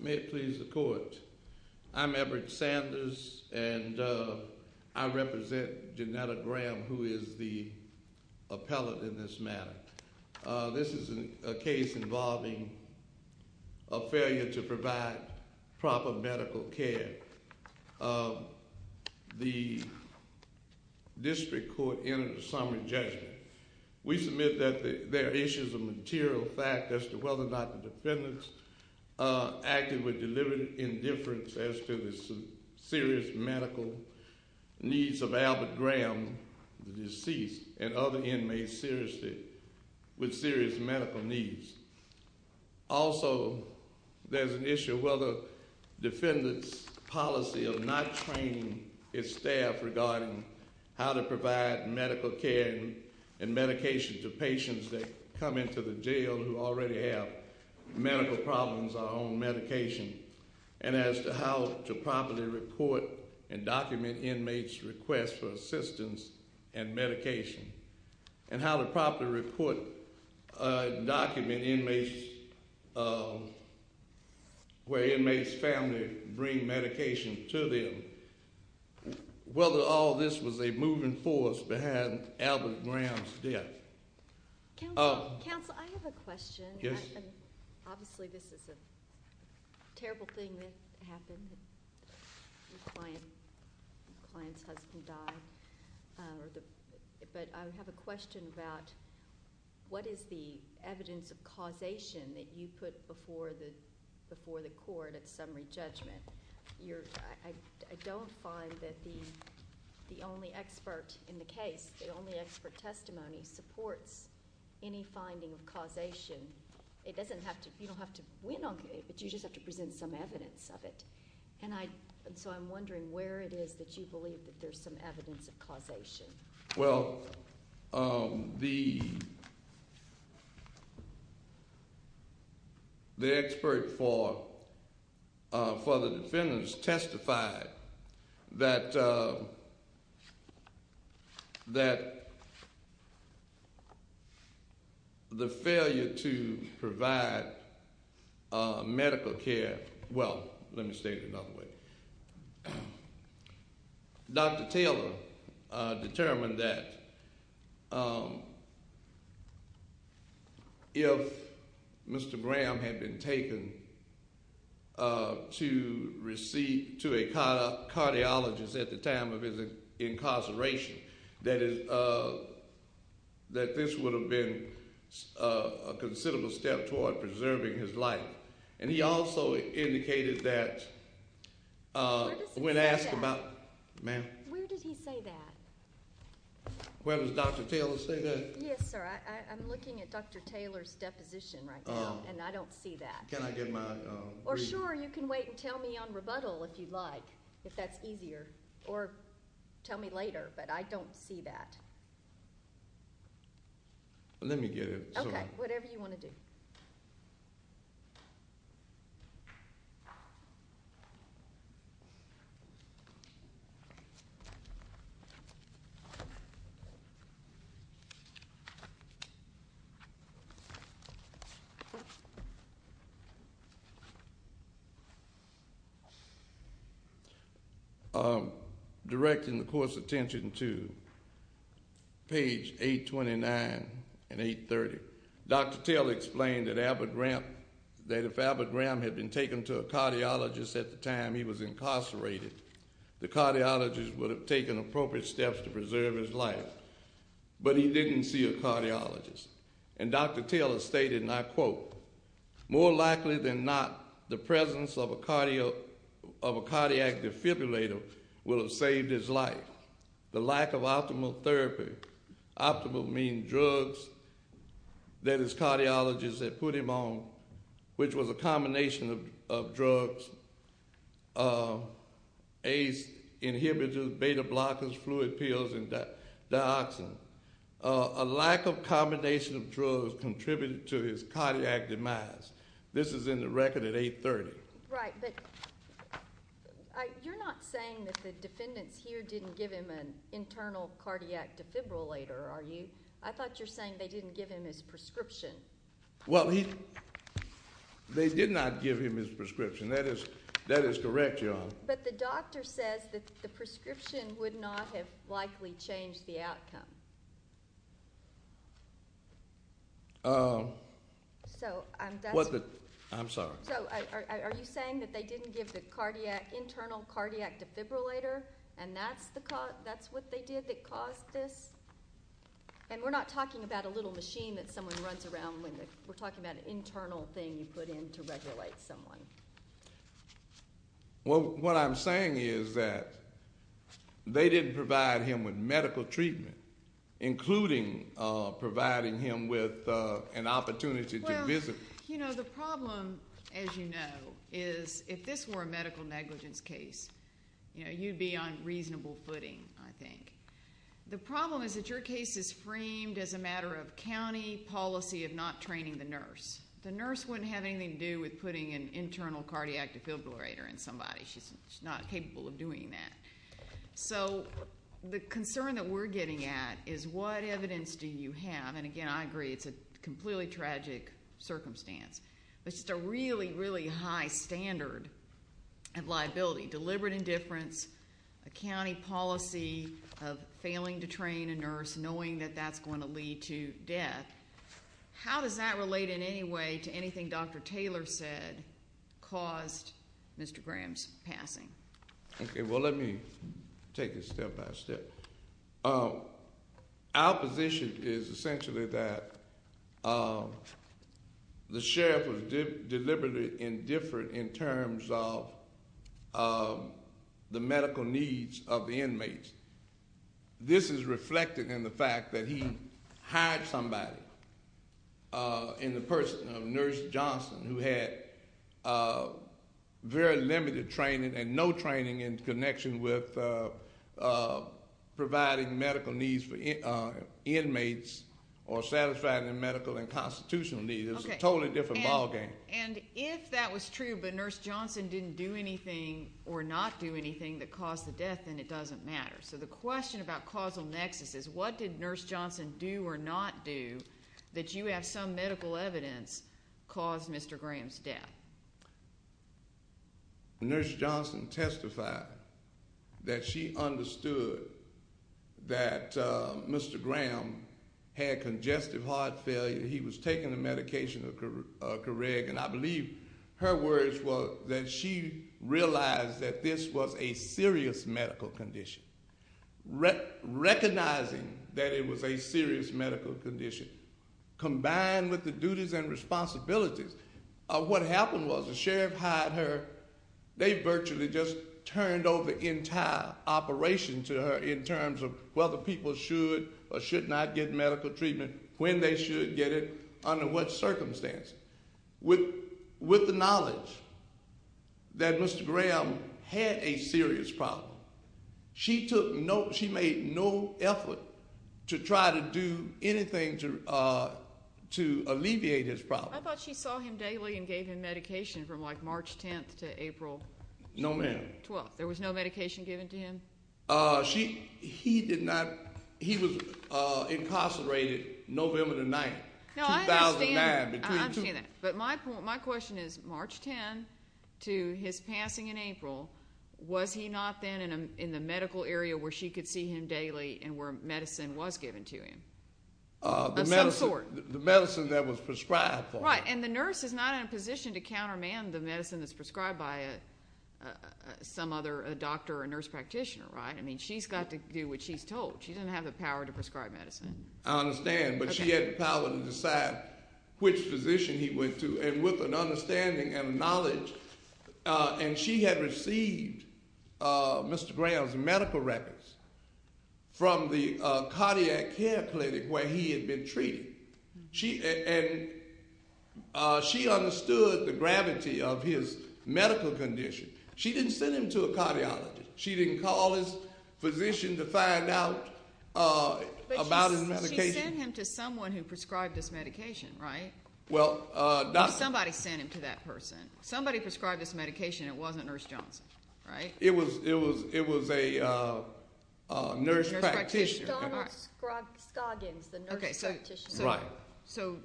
May it please the court, I'm Everett Sanders and I represent Janetta Graham who is the This is a case involving a failure to provide proper medical care. The district court entered a summary judgment. We submit that there are issues of material fact as to whether or not the defendants acted with deliberate indifference as to the serious medical needs of Albert Graham, the deceased, and other inmates with serious medical needs. Also, there's an issue of whether defendants' policy of not training its staff regarding how to provide medical care and medication to patients that come into the jail who already have medical problems or are on medication, and as to how to properly report and document inmates' requests for assistance and medication. And how to properly report and document inmates, where inmates' families bring medication to them. Whether all this was a moving force behind Albert Graham's death. Counsel, I have a question. Obviously this is a terrible thing that happened. The client's husband died. But I have a question about what is the evidence of causation that you put before the court at summary judgment? I don't find that the only expert in the case, the only expert testimony supports any finding of causation. You don't have to win on it, but you just have to present some evidence of it. And so I'm wondering where it is that you believe that there's some evidence of causation. Well, the expert for the defendants testified that the failure to provide medical care, well, let me state it another way. Dr. Taylor determined that if Mr. Graham had been taken to a cardiologist at the time of his incarceration, that this would have been a considerable step toward preserving his life. And he also indicated that when asked about- Where does he say that? Ma'am? Where does he say that? Where does Dr. Taylor say that? Yes, sir. I'm looking at Dr. Taylor's deposition right now, and I don't see that. Can I get my- Or sure, you can wait and tell me on rebuttal if you'd like, if that's easier. Or tell me later, but I don't see that. Let me get it. Okay, whatever you want to do. Thank you. If Mr. Graham had been taken to a cardiologist at the time he was incarcerated, the cardiologist would have taken appropriate steps to preserve his life. But he didn't see a cardiologist. And Dr. Taylor stated, and I quote, More likely than not, the presence of a cardiac defibrillator will have saved his life. The lack of optimal therapy, optimal meaning drugs, that his cardiologist had put him on, which was a combination of drugs, ACE inhibitors, beta blockers, fluid pills, and dioxin. A lack of combination of drugs contributed to his cardiac demise. This is in the record at 830. Right, but you're not saying that the defendants here didn't give him an internal cardiac defibrillator, are you? I thought you're saying they didn't give him his prescription. Well, they did not give him his prescription. That is correct, Your Honor. But the doctor says that the prescription would not have likely changed the outcome. I'm sorry. Are you saying that they didn't give the internal cardiac defibrillator and that's what they did that caused this? And we're not talking about a little machine that someone runs around with. We're talking about an internal thing you put in to regulate someone. Well, what I'm saying is that they didn't provide him with medical treatment, including providing him with an opportunity to visit. Well, you know, the problem, as you know, is if this were a medical negligence case, you know, you'd be on reasonable footing, I think. The problem is that your case is framed as a matter of county policy of not training the nurse. The nurse wouldn't have anything to do with putting an internal cardiac defibrillator in somebody. She's not capable of doing that. So the concern that we're getting at is what evidence do you have? And, again, I agree it's a completely tragic circumstance. It's just a really, really high standard of liability, deliberate indifference, a county policy of failing to train a nurse, knowing that that's going to lead to death. How does that relate in any way to anything Dr. Taylor said caused Mr. Graham's passing? Okay, well, let me take it step by step. Our position is essentially that the sheriff was deliberately indifferent in terms of the medical needs of the inmates. This is reflected in the fact that he hired somebody in the person of Nurse Johnson who had very limited training and no training in connection with providing medical needs for inmates or satisfying their medical and constitutional needs. It was a totally different ballgame. And if that was true but Nurse Johnson didn't do anything or not do anything that caused the death, then it doesn't matter. So the question about causal nexus is what did Nurse Johnson do or not do that you have some medical evidence caused Mr. Graham's death? Nurse Johnson testified that she understood that Mr. Graham had congestive heart failure. He was taking the medication of Coreg. And I believe her words were that she realized that this was a serious medical condition. Recognizing that it was a serious medical condition combined with the duties and responsibilities, what happened was the sheriff hired her. They virtually just turned over the entire operation to her in terms of whether people should or should not get medical treatment, when they should get it, under what circumstance. With the knowledge that Mr. Graham had a serious problem, she made no effort to try to do anything to alleviate his problem. I thought she saw him daily and gave him medication from, like, March 10th to April 12th. No, ma'am. There was no medication given to him? He was incarcerated November the 9th, 2009. I understand that. But my question is March 10th to his passing in April, was he not then in the medical area where she could see him daily and where medicine was given to him of some sort? The medicine that was prescribed for him. That's right. And the nurse is not in a position to countermand the medicine that's prescribed by some other doctor or nurse practitioner, right? I mean, she's got to do what she's told. She doesn't have the power to prescribe medicine. I understand, but she had the power to decide which physician he went to, and with an understanding and knowledge. And she had received Mr. Graham's medical records from the cardiac care clinic where he had been treated. And she understood the gravity of his medical condition. She didn't send him to a cardiologist. She didn't call his physician to find out about his medication. But she sent him to someone who prescribed this medication, right? Somebody sent him to that person. Somebody prescribed this medication. It wasn't Nurse Johnson, right? It was a nurse practitioner. Okay, so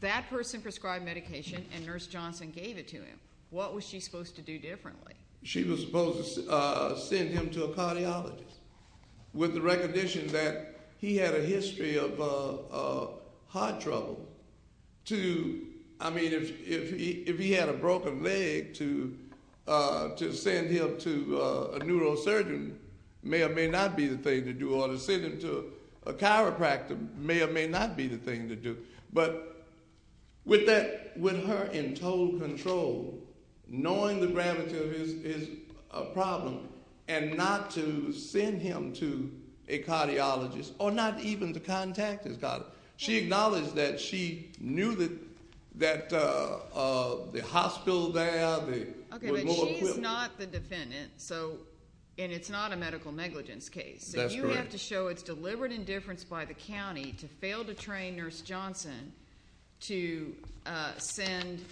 that person prescribed medication, and Nurse Johnson gave it to him. What was she supposed to do differently? She was supposed to send him to a cardiologist with the recognition that he had a history of heart trouble. I mean, if he had a broken leg, to send him to a neurosurgeon may or may not be the thing to do. Or to send him to a chiropractor may or may not be the thing to do. But with her in total control, knowing the gravity of his problem, and not to send him to a cardiologist, or not even to contact his cardiologist. She acknowledged that she knew that the hospital there was more equipped. Okay, but she's not the defendant, and it's not a medical negligence case. That's correct. You have to show it's deliberate indifference by the county to fail to train Nurse Johnson to send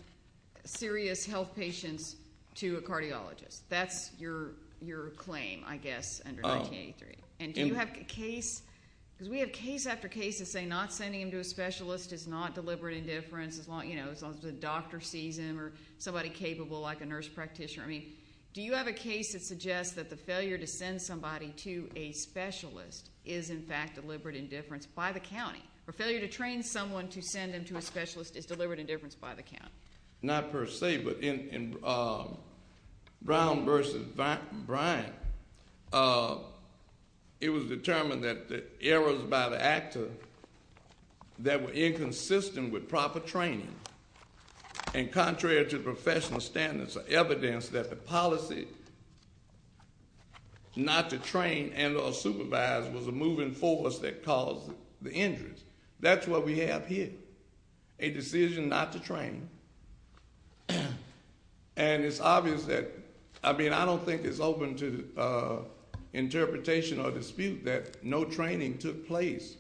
serious health patients to a cardiologist. That's your claim, I guess, under 1983. Okay, and do you have a case? Because we have case after case that say not sending him to a specialist is not deliberate indifference. As long as the doctor sees him, or somebody capable like a nurse practitioner. I mean, do you have a case that suggests that the failure to send somebody to a specialist is, in fact, deliberate indifference by the county? Or failure to train someone to send them to a specialist is deliberate indifference by the county? Not per se, but in Brown versus Bryant, it was determined that the errors by the actor that were inconsistent with proper training, and contrary to professional standards, evidence that the policy not to train and or supervise was a moving force that caused the injuries. That's what we have here. A decision not to train. And it's obvious that, I mean, I don't think it's open to interpretation or dispute that no training took place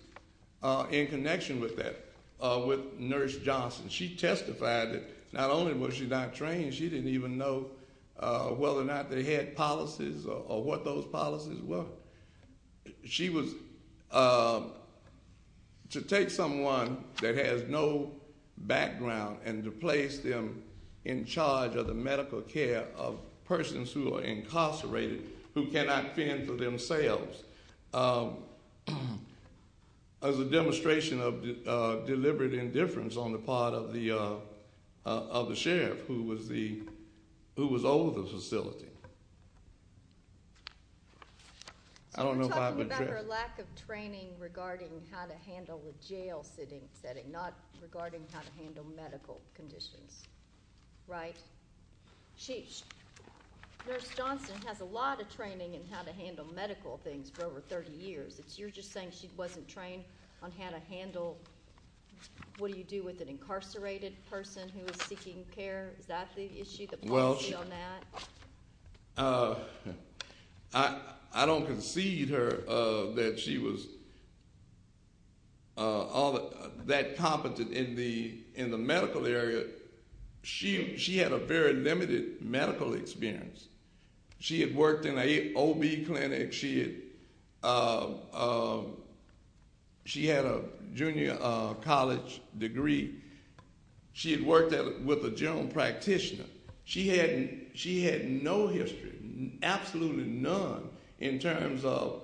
in connection with that, with Nurse Johnson. She testified that not only was she not trained, she didn't even know whether or not they had policies or what those policies were. She was to take someone that has no background and to place them in charge of the medical care of persons who are incarcerated, who cannot fend for themselves, as a demonstration of deliberate indifference on the part of the sheriff who was over the facility. So we're talking about her lack of training regarding how to handle a jail setting, not regarding how to handle medical conditions, right? Nurse Johnson has a lot of training in how to handle medical things for over 30 years. You're just saying she wasn't trained on how to handle, what do you do with an incarcerated person who is seeking care? Is that the issue, the policy on that? I don't concede her that she was that competent in the medical area. She had a very limited medical experience. She had worked in an OB clinic. She had a junior college degree. She had worked with a general practitioner. She had no history, absolutely none, in terms of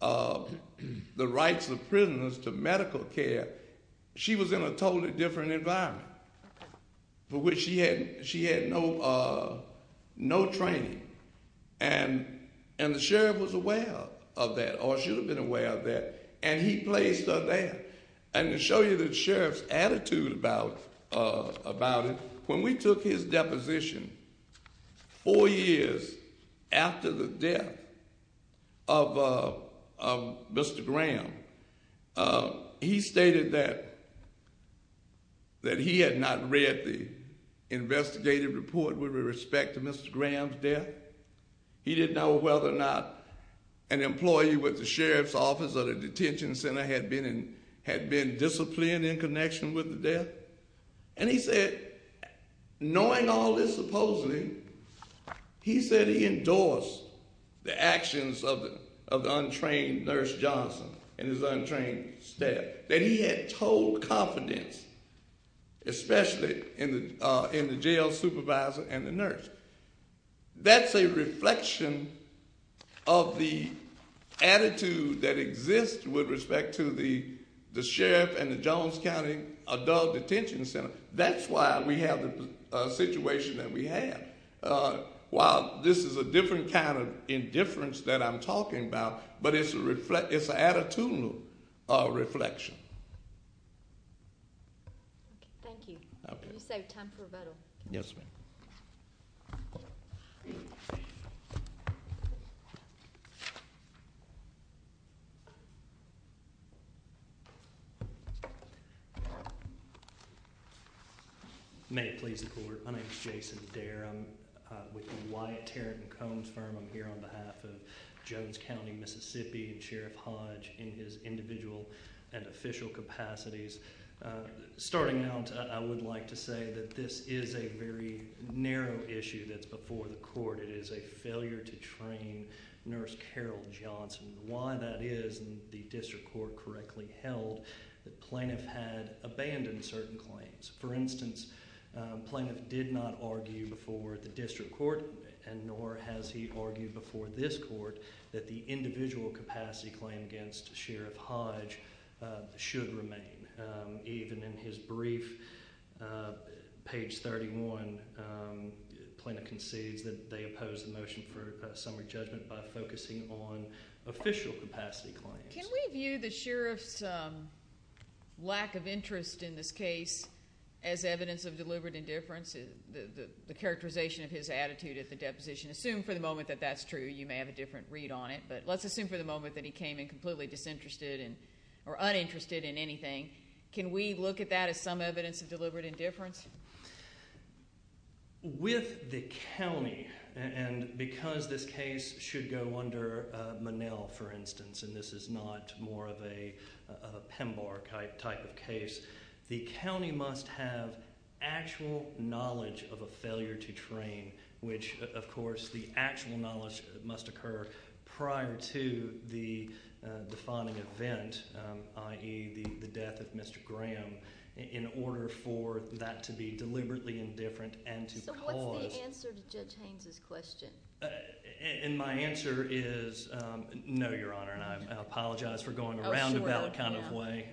the rights of prisoners to medical care. She was in a totally different environment for which she had no training. And the sheriff was aware of that, or should have been aware of that, and he placed her there. And to show you the sheriff's attitude about it, when we took his deposition, four years after the death of Mr. Graham, he stated that he had not read the investigative report with respect to Mr. Graham's death. He didn't know whether or not an employee with the sheriff's office or the detention center had been disciplined in connection with the death. And he said, knowing all this supposedly, he said he endorsed the actions of the untrained Nurse Johnson and his untrained staff. That he had told confidence, especially in the jail supervisor and the nurse. That's a reflection of the attitude that exists with respect to the sheriff and the Jones County Adult Detention Center. That's why we have the situation that we have. While this is a different kind of indifference that I'm talking about, but it's an attitudinal reflection. Thank you. You said time for a vote. Yes, ma'am. Thank you. May it please the court. My name is Jason Dare. I'm with the Wyatt, Tarrant & Combs firm. I'm here on behalf of Jones County, Mississippi and Sheriff Hodge in his individual and official capacities. Starting out, I would like to say that this is a very narrow issue that's before the court. It is a failure to train Nurse Carol Johnson. Why that is and the district court correctly held that plaintiff had abandoned certain claims. For instance, plaintiff did not argue before the district court and nor has he argued before this court. That the individual capacity claim against Sheriff Hodge should remain. Even in his brief, page 31, plaintiff concedes that they oppose the motion for summary judgment by focusing on official capacity claims. Can we view the sheriff's lack of interest in this case as evidence of deliberate indifference? The characterization of his attitude at the deposition. Assume for the moment that that's true. You may have a different read on it. But let's assume for the moment that he came in completely disinterested or uninterested in anything. Can we look at that as some evidence of deliberate indifference? With the county and because this case should go under Monell, for instance. And this is not more of a PEMBAR type of case. The county must have actual knowledge of a failure to train. Which, of course, the actual knowledge must occur prior to the defining event, i.e. the death of Mr. Graham. In order for that to be deliberately indifferent and to cause. So what's the answer to Judge Haynes' question? And my answer is no, Your Honor. And I apologize for going around the ballot kind of way.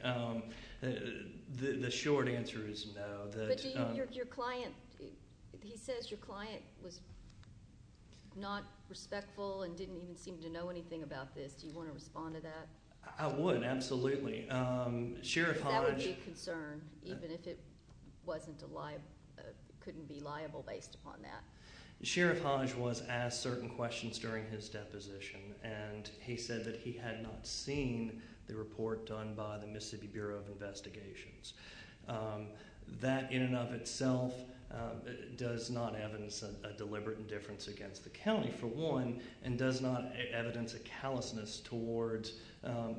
The short answer is no. But your client, he says your client was not respectful and didn't even seem to know anything about this. Do you want to respond to that? I would, absolutely. That would be a concern even if it couldn't be liable based upon that. Sheriff Hodge was asked certain questions during his deposition. And he said that he had not seen the report done by the Mississippi Bureau of Investigations. That in and of itself does not evidence a deliberate indifference against the county, for one. And does not evidence a callousness towards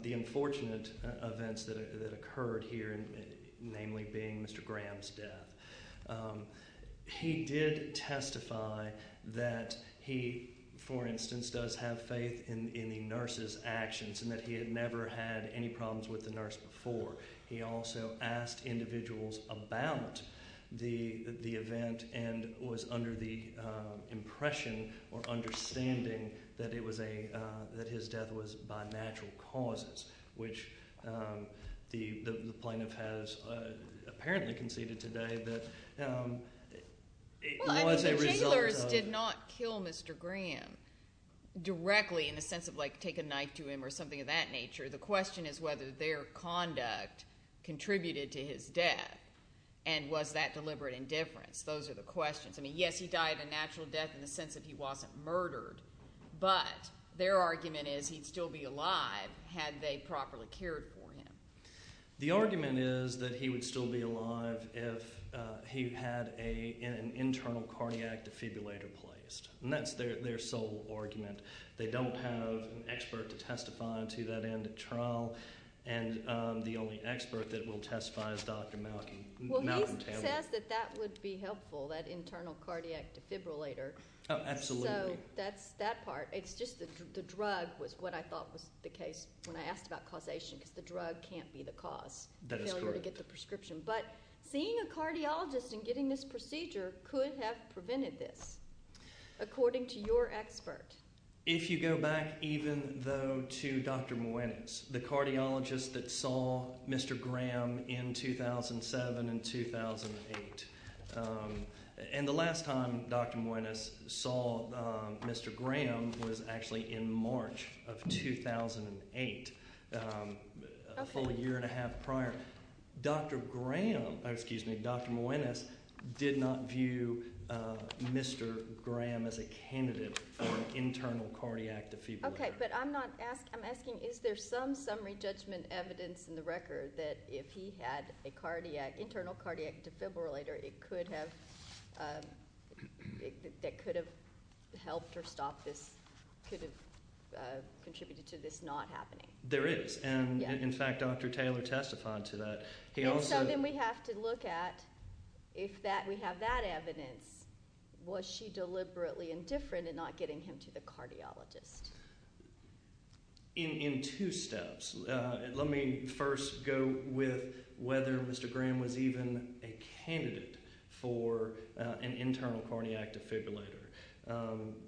the unfortunate events that occurred here. Namely being Mr. Graham's death. He did testify that he, for instance, does have faith in the nurse's actions. And that he had never had any problems with the nurse before. He also asked individuals about the event. And was under the impression or understanding that his death was by natural causes. Which the plaintiff has apparently conceded today that it was a result of. The jailers did not kill Mr. Graham directly in the sense of like take a knife to him or something of that nature. The question is whether their conduct contributed to his death. And was that deliberate indifference. Those are the questions. I mean, yes, he died a natural death in the sense that he wasn't murdered. But their argument is he'd still be alive had they properly cared for him. The argument is that he would still be alive if he had an internal cardiac defibrillator placed. And that's their sole argument. They don't have an expert to testify to that end at trial. And the only expert that will testify is Dr. Mountain. Well, he says that that would be helpful, that internal cardiac defibrillator. Oh, absolutely. So that's that part. It's just that the drug was what I thought was the case when I asked about causation. Because the drug can't be the cause. That is correct. Failure to get the prescription. But seeing a cardiologist and getting this procedure could have prevented this, according to your expert. If you go back even though to Dr. Moines, the cardiologist that saw Mr. Graham in 2007 and 2008. And the last time Dr. Moines saw Mr. Graham was actually in March of 2008, a full year and a half prior. Dr. Graham, excuse me, Dr. Moines did not view Mr. Graham as a candidate for an internal cardiac defibrillator. Okay, but I'm asking, is there some summary judgment evidence in the record that if he had an internal cardiac defibrillator, it could have helped or stopped this, could have contributed to this not happening? There is. And, in fact, Dr. Taylor testified to that. And so then we have to look at if we have that evidence, was she deliberately indifferent in not getting him to the cardiologist? In two steps. Let me first go with whether Mr. Graham was even a candidate for an internal cardiac defibrillator.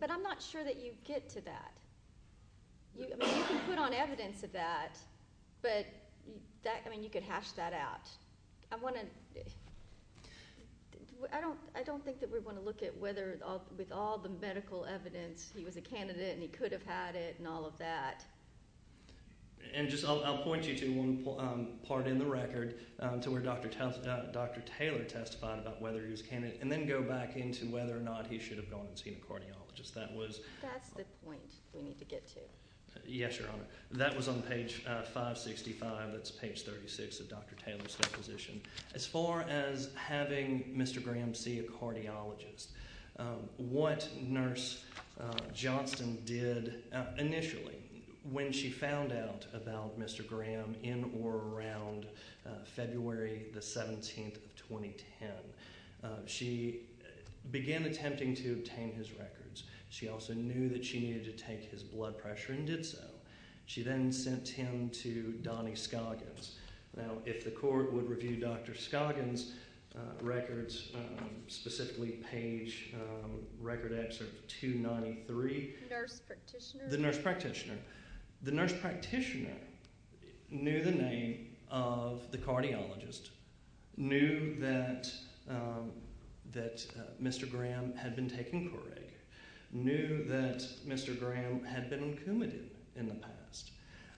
But I'm not sure that you get to that. You can put on evidence of that, but you could hash that out. I don't think that we want to look at whether with all the medical evidence he was a candidate and he could have had it and all of that. And I'll point you to one part in the record to where Dr. Taylor testified about whether he was a candidate and then go back into whether or not he should have gone and seen a cardiologist. That's the point we need to get to. Yes, Your Honor. That was on page 565. That's page 36 of Dr. Taylor's deposition. As far as having Mr. Graham see a cardiologist, what Nurse Johnston did initially when she found out about Mr. Graham in or around February 17, 2010, she began attempting to obtain his records. She also knew that she needed to take his blood pressure and did so. She then sent him to Donnie Scoggins. Now, if the court would review Dr. Scoggins' records, specifically page record excerpt 293. The nurse practitioner? The nurse practitioner. The nurse practitioner knew the name of the cardiologist, knew that Mr. Graham had been taking Couric, knew that Mr. Graham had been on Coumadin in the past,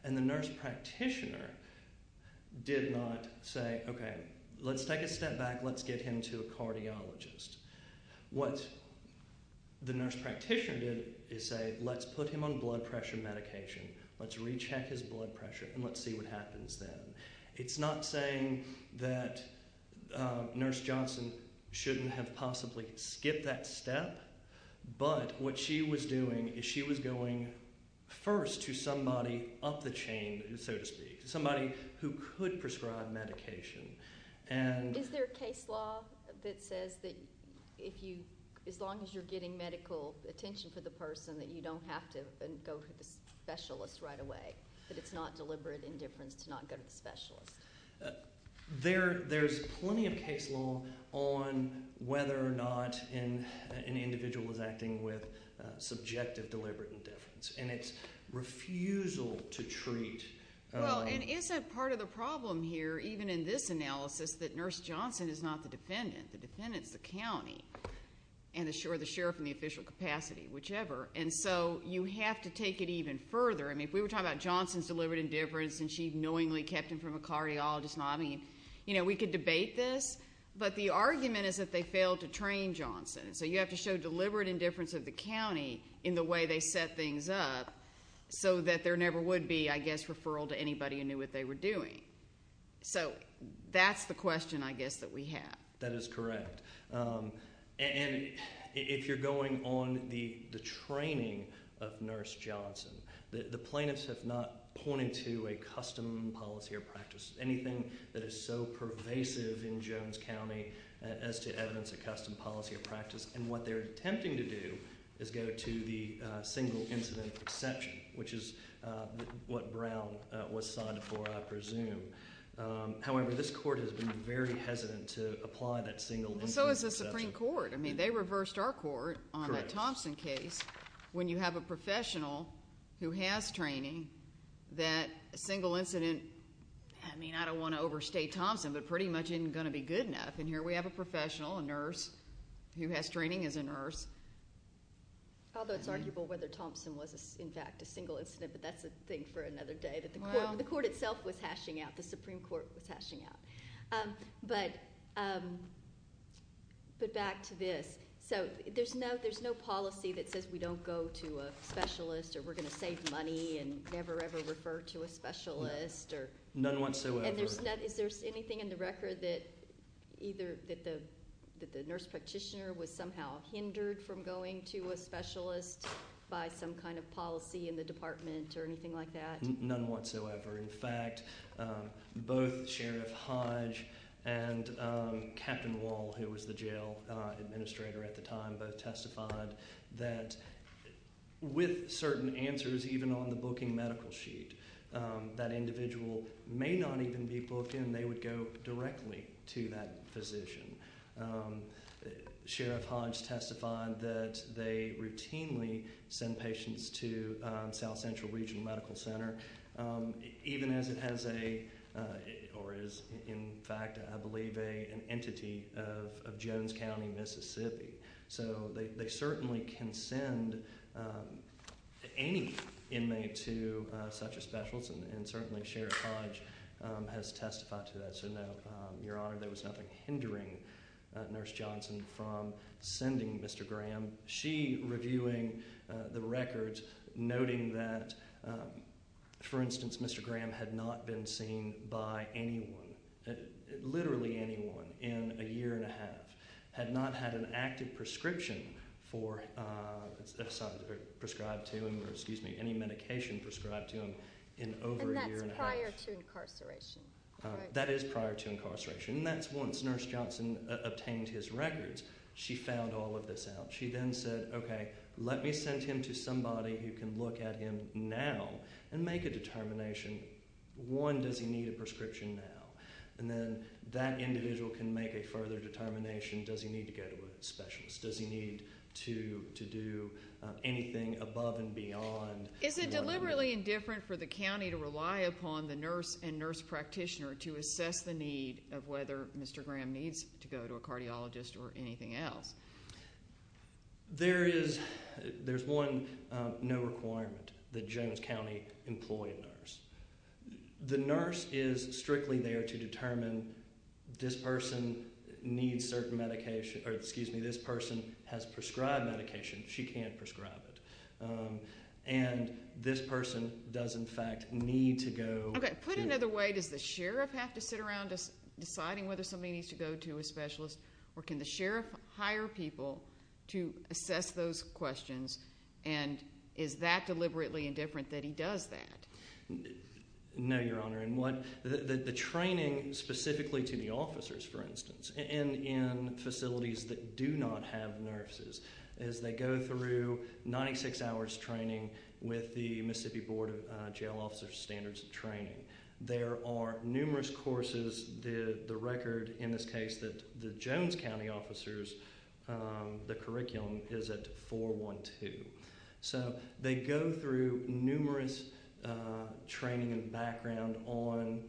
and the nurse practitioner did not say, okay, let's take a step back. Let's get him to a cardiologist. What the nurse practitioner did is say, let's put him on blood pressure medication. Let's recheck his blood pressure and let's see what happens then. It's not saying that Nurse Johnston shouldn't have possibly skipped that step, but what she was doing is she was going first to somebody up the chain, so to speak, somebody who could prescribe medication. Is there a case law that says that as long as you're getting medical attention for the person, that you don't have to go to the specialist right away, that it's not deliberate indifference to not go to the specialist? There's plenty of case law on whether or not an individual is acting with subjective deliberate indifference, and it's refusal to treat. Well, and isn't part of the problem here, even in this analysis, that Nurse Johnston is not the defendant. The defendant is the county and the sheriff in the official capacity, whichever. And so you have to take it even further. I mean, if we were talking about Johnston's deliberate indifference and she knowingly kept him from a cardiologist, I mean, you know, we could debate this, but the argument is that they failed to train Johnston. So you have to show deliberate indifference of the county in the way they set things up so that there never would be, I guess, referral to anybody who knew what they were doing. So that's the question, I guess, that we have. That is correct. And if you're going on the training of Nurse Johnston, the plaintiffs have not pointed to a custom policy or practice, anything that is so pervasive in Jones County, as to evidence of custom policy or practice. And what they're attempting to do is go to the single incident exception, which is what Brown was cited for, I presume. However, this court has been very hesitant to apply that single incident exception. Well, so has the Supreme Court. I mean, they reversed our court on that Thompson case. When you have a professional who has training, that single incident, I mean, I don't want to overstate Thompson, but pretty much isn't going to be good enough. And here we have a professional, a nurse, who has training as a nurse. Although it's arguable whether Thompson was, in fact, a single incident, but that's a thing for another day. The court itself was hashing out. The Supreme Court was hashing out. But back to this. So there's no policy that says we don't go to a specialist or we're going to save money and never, ever refer to a specialist. None whatsoever. And is there anything in the record that either that the nurse practitioner was somehow hindered from going to a specialist by some kind of policy in the department or anything like that? None whatsoever. In fact, both Sheriff Hodge and Captain Wall, who was the jail administrator at the time, both testified that with certain answers, even on the booking medical sheet, that individual may not even be booked in. They would go directly to that physician. Sheriff Hodge testified that they routinely send patients to South Central Regional Medical Center, even as it has a or is, in fact, I believe, an entity of Jones County, Mississippi. So they certainly can send any inmate to such a specialist. And certainly Sheriff Hodge has testified to that. Your Honor, there was nothing hindering Nurse Johnson from sending Mr. Graham. She reviewing the records, noting that, for instance, Mr. Graham had not been seen by anyone, literally anyone, in a year and a half. Had not had an active prescription prescribed to him or any medication prescribed to him in over a year and a half. And that's prior to incarceration. That is prior to incarceration. And that's once Nurse Johnson obtained his records. She found all of this out. She then said, okay, let me send him to somebody who can look at him now and make a determination. One, does he need a prescription now? And then that individual can make a further determination. Does he need to go to a specialist? Does he need to do anything above and beyond? Is it deliberately indifferent for the county to rely upon the nurse and nurse practitioner to assess the need of whether Mr. Graham needs to go to a cardiologist or anything else? There is one no requirement that Jones County employ a nurse. The nurse is strictly there to determine this person needs certain medication, or excuse me, this person has prescribed medication. She can't prescribe it. And this person does, in fact, need to go put another way. Does the sheriff have to sit around deciding whether somebody needs to go to a specialist or can the sheriff hire people to assess those questions? And is that deliberately indifferent that he does that? No, Your Honor. The training specifically to the officers, for instance, in facilities that do not have nurses is they go through 96 hours training with the Mississippi Board of Jail Officers Standards and Training. There are numerous courses. The record in this case that the Jones County officers, the curriculum, is at 412. So they go through numerous training and background on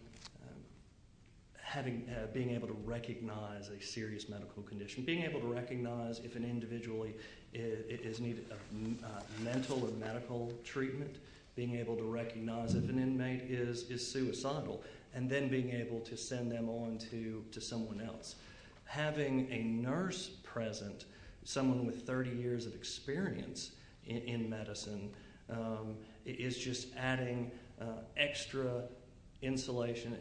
being able to recognize a serious medical condition, being able to recognize if an individual is in need of mental or medical treatment, being able to recognize if an inmate is suicidal, and then being able to send them on to someone else. Having a nurse present, someone with 30 years of experience in medicine, is just adding extra insulation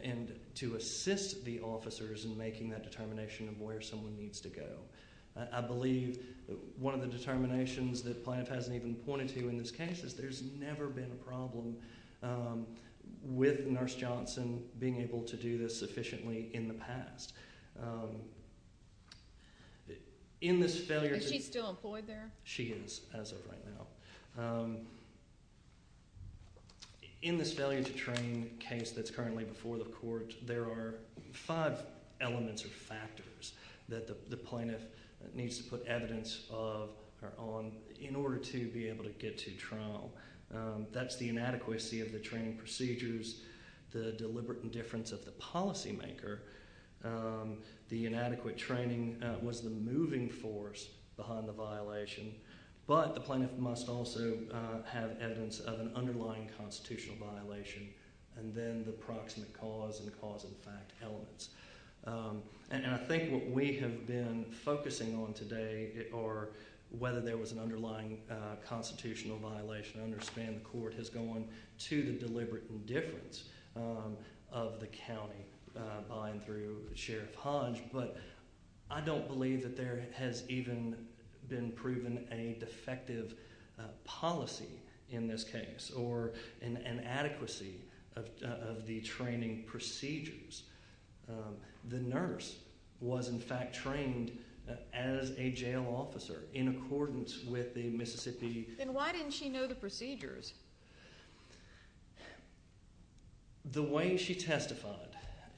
to assist the officers in making that determination of where someone needs to go. I believe one of the determinations that Planoff hasn't even pointed to in this case is there's never been a problem with Nurse Johnson being able to do this sufficiently in the past. Is she still employed there? She is, as of right now. In this failure to train case that's currently before the court, there are five elements or factors that the plaintiff needs to put evidence of or on in order to be able to get to trial. That's the inadequacy of the training procedures, the deliberate indifference of the policymaker, the inadequate training was the moving force behind the violation, but the plaintiff must also have evidence of an underlying constitutional violation, and then the proximate cause and causal fact elements. I think what we have been focusing on today are whether there was an underlying constitutional violation. I understand the court has gone to the deliberate indifference of the county by and through Sheriff Hodge, but I don't believe that there has even been proven a defective policy in this case or an inadequacy of the training procedures. The nurse was, in fact, trained as a jail officer in accordance with the Mississippi… Then why didn't she know the procedures? The way she testified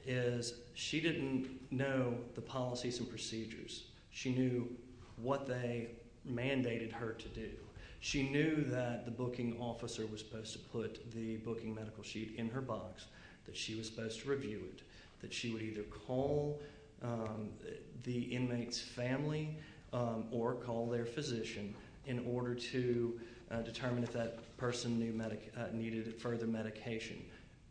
is she didn't know the policies and procedures. She knew what they mandated her to do. She knew that the booking officer was supposed to put the booking medical sheet in her box, that she was supposed to review it, that she would either call the inmate's family or call their physician in order to determine if that person needed further medication.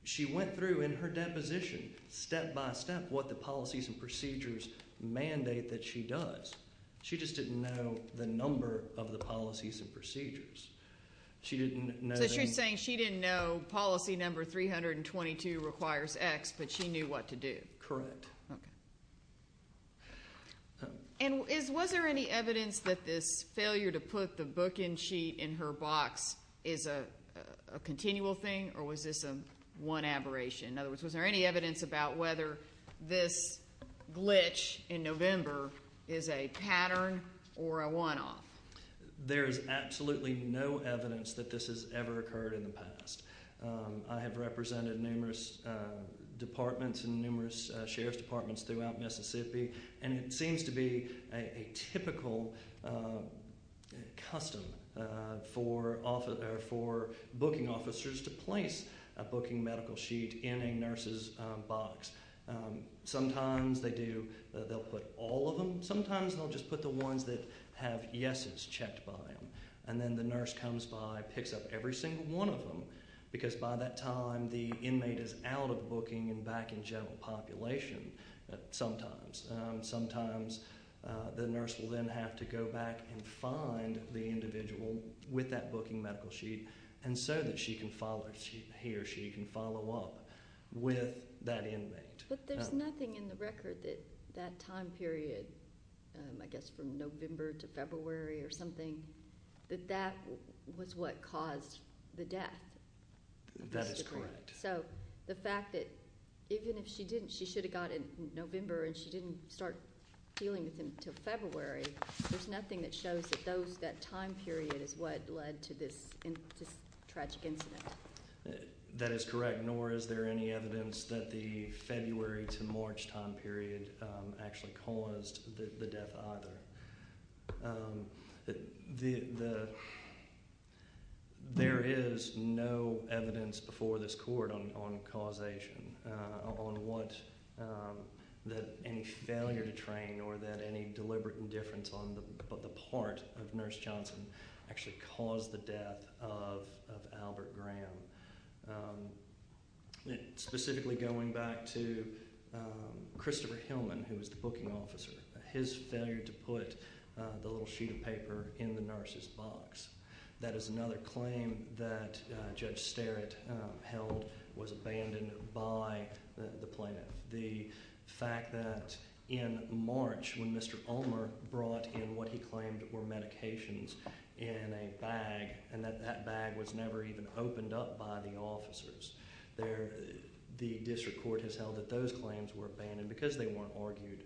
She went through in her deposition, step by step, what the policies and procedures mandate that she does. She just didn't know the number of the policies and procedures. So she's saying she didn't know policy number 322 requires X, but she knew what to do. Correct. Okay. And was there any evidence that this failure to put the booking sheet in her box is a continual thing or was this a one aberration? In other words, was there any evidence about whether this glitch in November is a pattern or a one-off? There is absolutely no evidence that this has ever occurred in the past. I have represented numerous departments and numerous sheriff's departments throughout Mississippi, and it seems to be a typical custom for booking officers to place a booking medical sheet in a nurse's box. Sometimes they'll put all of them. Sometimes they'll just put the ones that have yeses checked by them. And then the nurse comes by, picks up every single one of them, because by that time the inmate is out of booking and back in general population sometimes. Sometimes the nurse will then have to go back and find the individual with that booking medical sheet so that he or she can follow up with that inmate. But there's nothing in the record that that time period, I guess from November to February or something, that that was what caused the death. That is correct. So the fact that even if she didn't, she should have got it in November and she didn't start dealing with him until February, there's nothing that shows that that time period is what led to this tragic incident. That is correct, nor is there any evidence that the February to March time period actually caused the death either. There is no evidence before this court on causation, on what any failure to train or that any deliberate indifference on the part of Nurse Johnson actually caused the death of Albert Graham. Specifically going back to Christopher Hillman, who was the booking officer, his failure to put the little sheet of paper in the nurse's box. That is another claim that Judge Sterritt held was abandoned by the plaintiff. The fact that in March, when Mr. Ulmer brought in what he claimed were medications in a bag and that that bag was never even opened up by the officers, the district court has held that those claims were abandoned because they weren't argued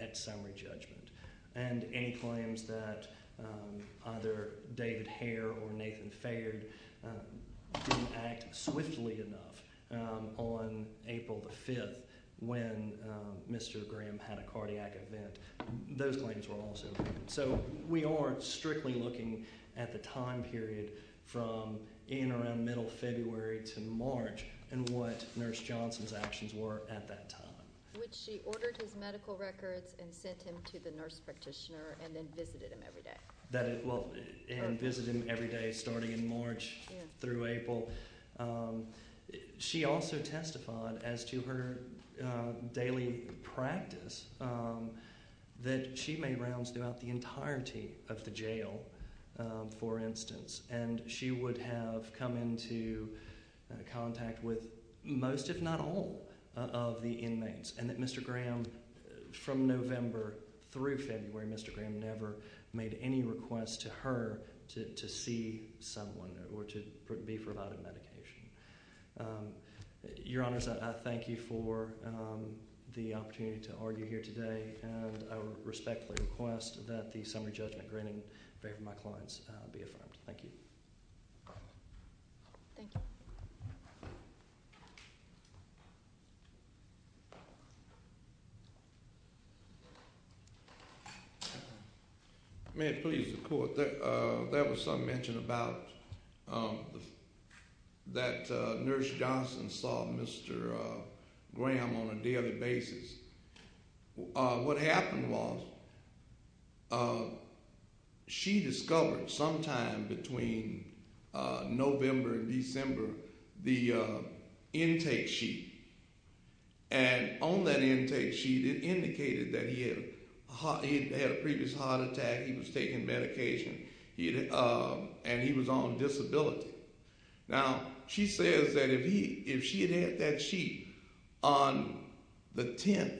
at summary judgment. And any claims that either David Hare or Nathan Fared didn't act swiftly enough on April the 5th when Mr. Graham had a cardiac event, those claims were also abandoned. So we aren't strictly looking at the time period from in around middle February to March and what Nurse Johnson's actions were at that time. Which she ordered his medical records and sent him to the nurse practitioner and then visited him every day. And visited him every day starting in March through April. She also testified as to her daily practice that she made rounds throughout the entirety of the jail, for instance. And she would have come into contact with most, if not all, of the inmates. And that Mr. Graham, from November through February, Mr. Graham never made any request to her to see someone or to be provided medication. Your Honors, I thank you for the opportunity to argue here today. And I respectfully request that the summary judgment granted in favor of my clients be affirmed. Thank you. Thank you. May it please the court. There was some mention about that Nurse Johnson saw Mr. Graham on a daily basis. What happened was she discovered sometime between November and December the intake sheet. And on that intake sheet it indicated that he had a previous heart attack, he was taking medication, and he was on disability. Now, she says that if she had had that sheet on the 10th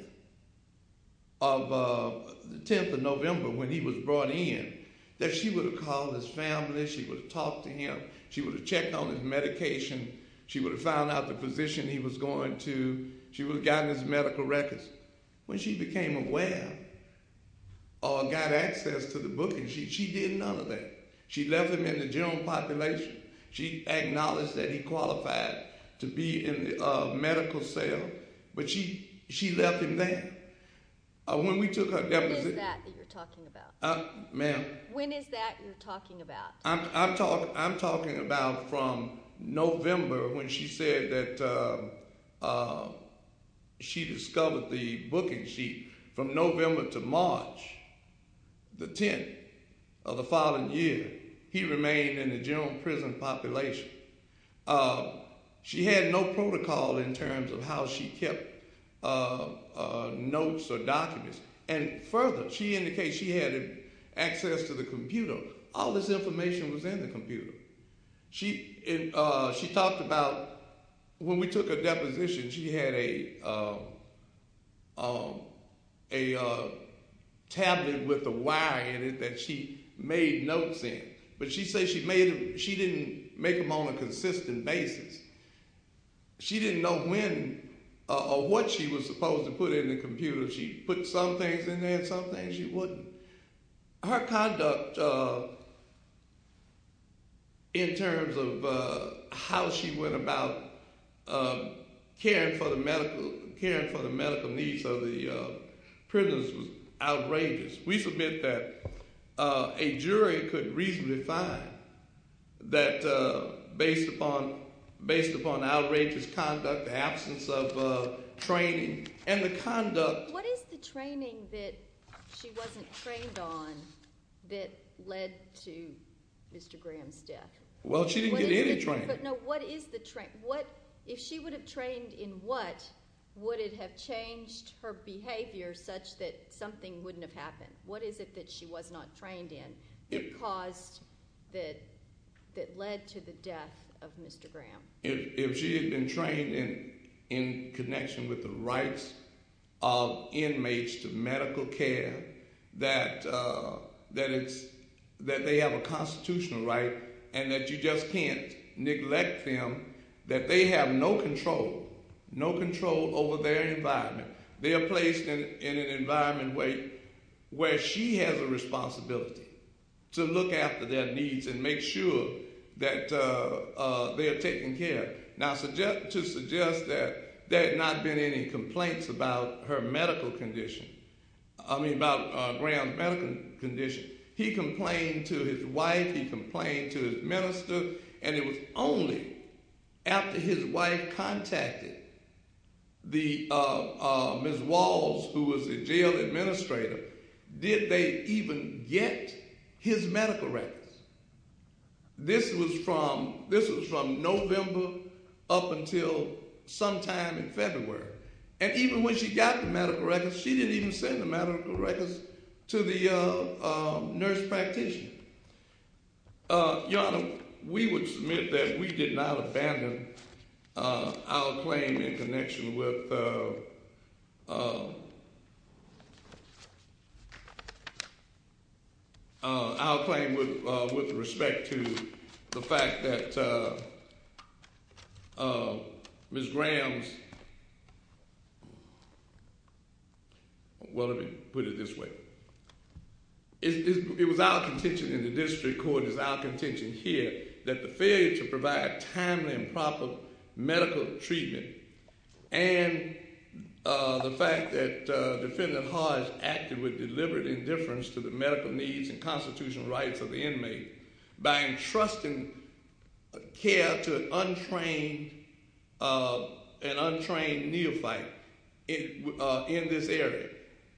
of November when he was brought in, that she would have called his family, she would have talked to him. She would have checked on his medication. She would have found out the physician he was going to. She would have gotten his medical records. When she became aware or got access to the book, she did none of that. She left him in the general population. She acknowledged that he qualified to be in the medical cell, but she left him there. When we took her deposition. When is that that you're talking about? Ma'am? When is that you're talking about? I'm talking about from November when she said that she discovered the booking sheet. From November to March the 10th of the following year, he remained in the general prison population. She had no protocol in terms of how she kept notes or documents. Further, she indicated she had access to the computer. All this information was in the computer. She talked about when we took her deposition, she had a tablet with a wire in it that she made notes in, but she said she didn't make them on a consistent basis. She didn't know when or what she was supposed to put in the computer. She put some things in there and some things she wouldn't. Her conduct in terms of how she went about caring for the medical needs of the prisoners was outrageous. We submit that a jury could reasonably find that based upon outrageous conduct, the absence of training and the conduct. What is the training that she wasn't trained on that led to Mr. Graham's death? Well, she didn't get any training. If she would have trained in what, would it have changed her behavior such that something wouldn't have happened? What is it that she was not trained in that led to the death of Mr. Graham? If she had been trained in connection with the rights of inmates to medical care, that they have a constitutional right and that you just can't neglect them, that they have no control, no control over their environment. They are placed in an environment where she has a responsibility to look after their needs and make sure that they are taken care of. Now, to suggest that there had not been any complaints about her medical condition, I mean about Graham's medical condition, he complained to his wife, he complained to his minister, and it was only after his wife contacted Ms. Walls, who was the jail administrator, did they even get his medical records. This was from November up until sometime in February. And even when she got the medical records, she didn't even send the medical records to the nurse practitioner. Your Honor, we would submit that we did not abandon our claim in connection with our claim with respect to the fact that Ms. Graham's, well let me put it this way. It was our contention in the district court, it was our contention here, that the failure to provide timely and proper medical treatment and the fact that Defendant Hodge acted with deliberate indifference to the medical needs and constitutional rights of the inmate by entrusting care to an untrained neophyte in this area.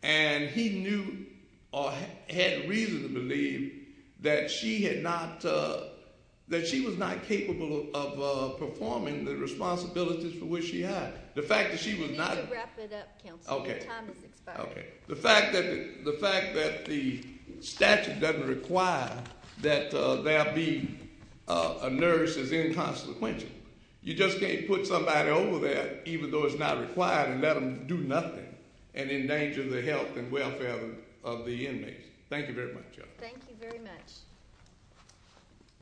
And he knew, or had reason to believe, that she was not capable of performing the responsibilities for which she had. You need to wrap it up, counsel. Your time has expired. The fact that the statute doesn't require that there be a nurse is inconsequential. You just can't put somebody over there, even though it's not required, and let them do nothing, and endanger the health and welfare of the inmates. Thank you very much, Your Honor. Thank you very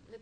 much.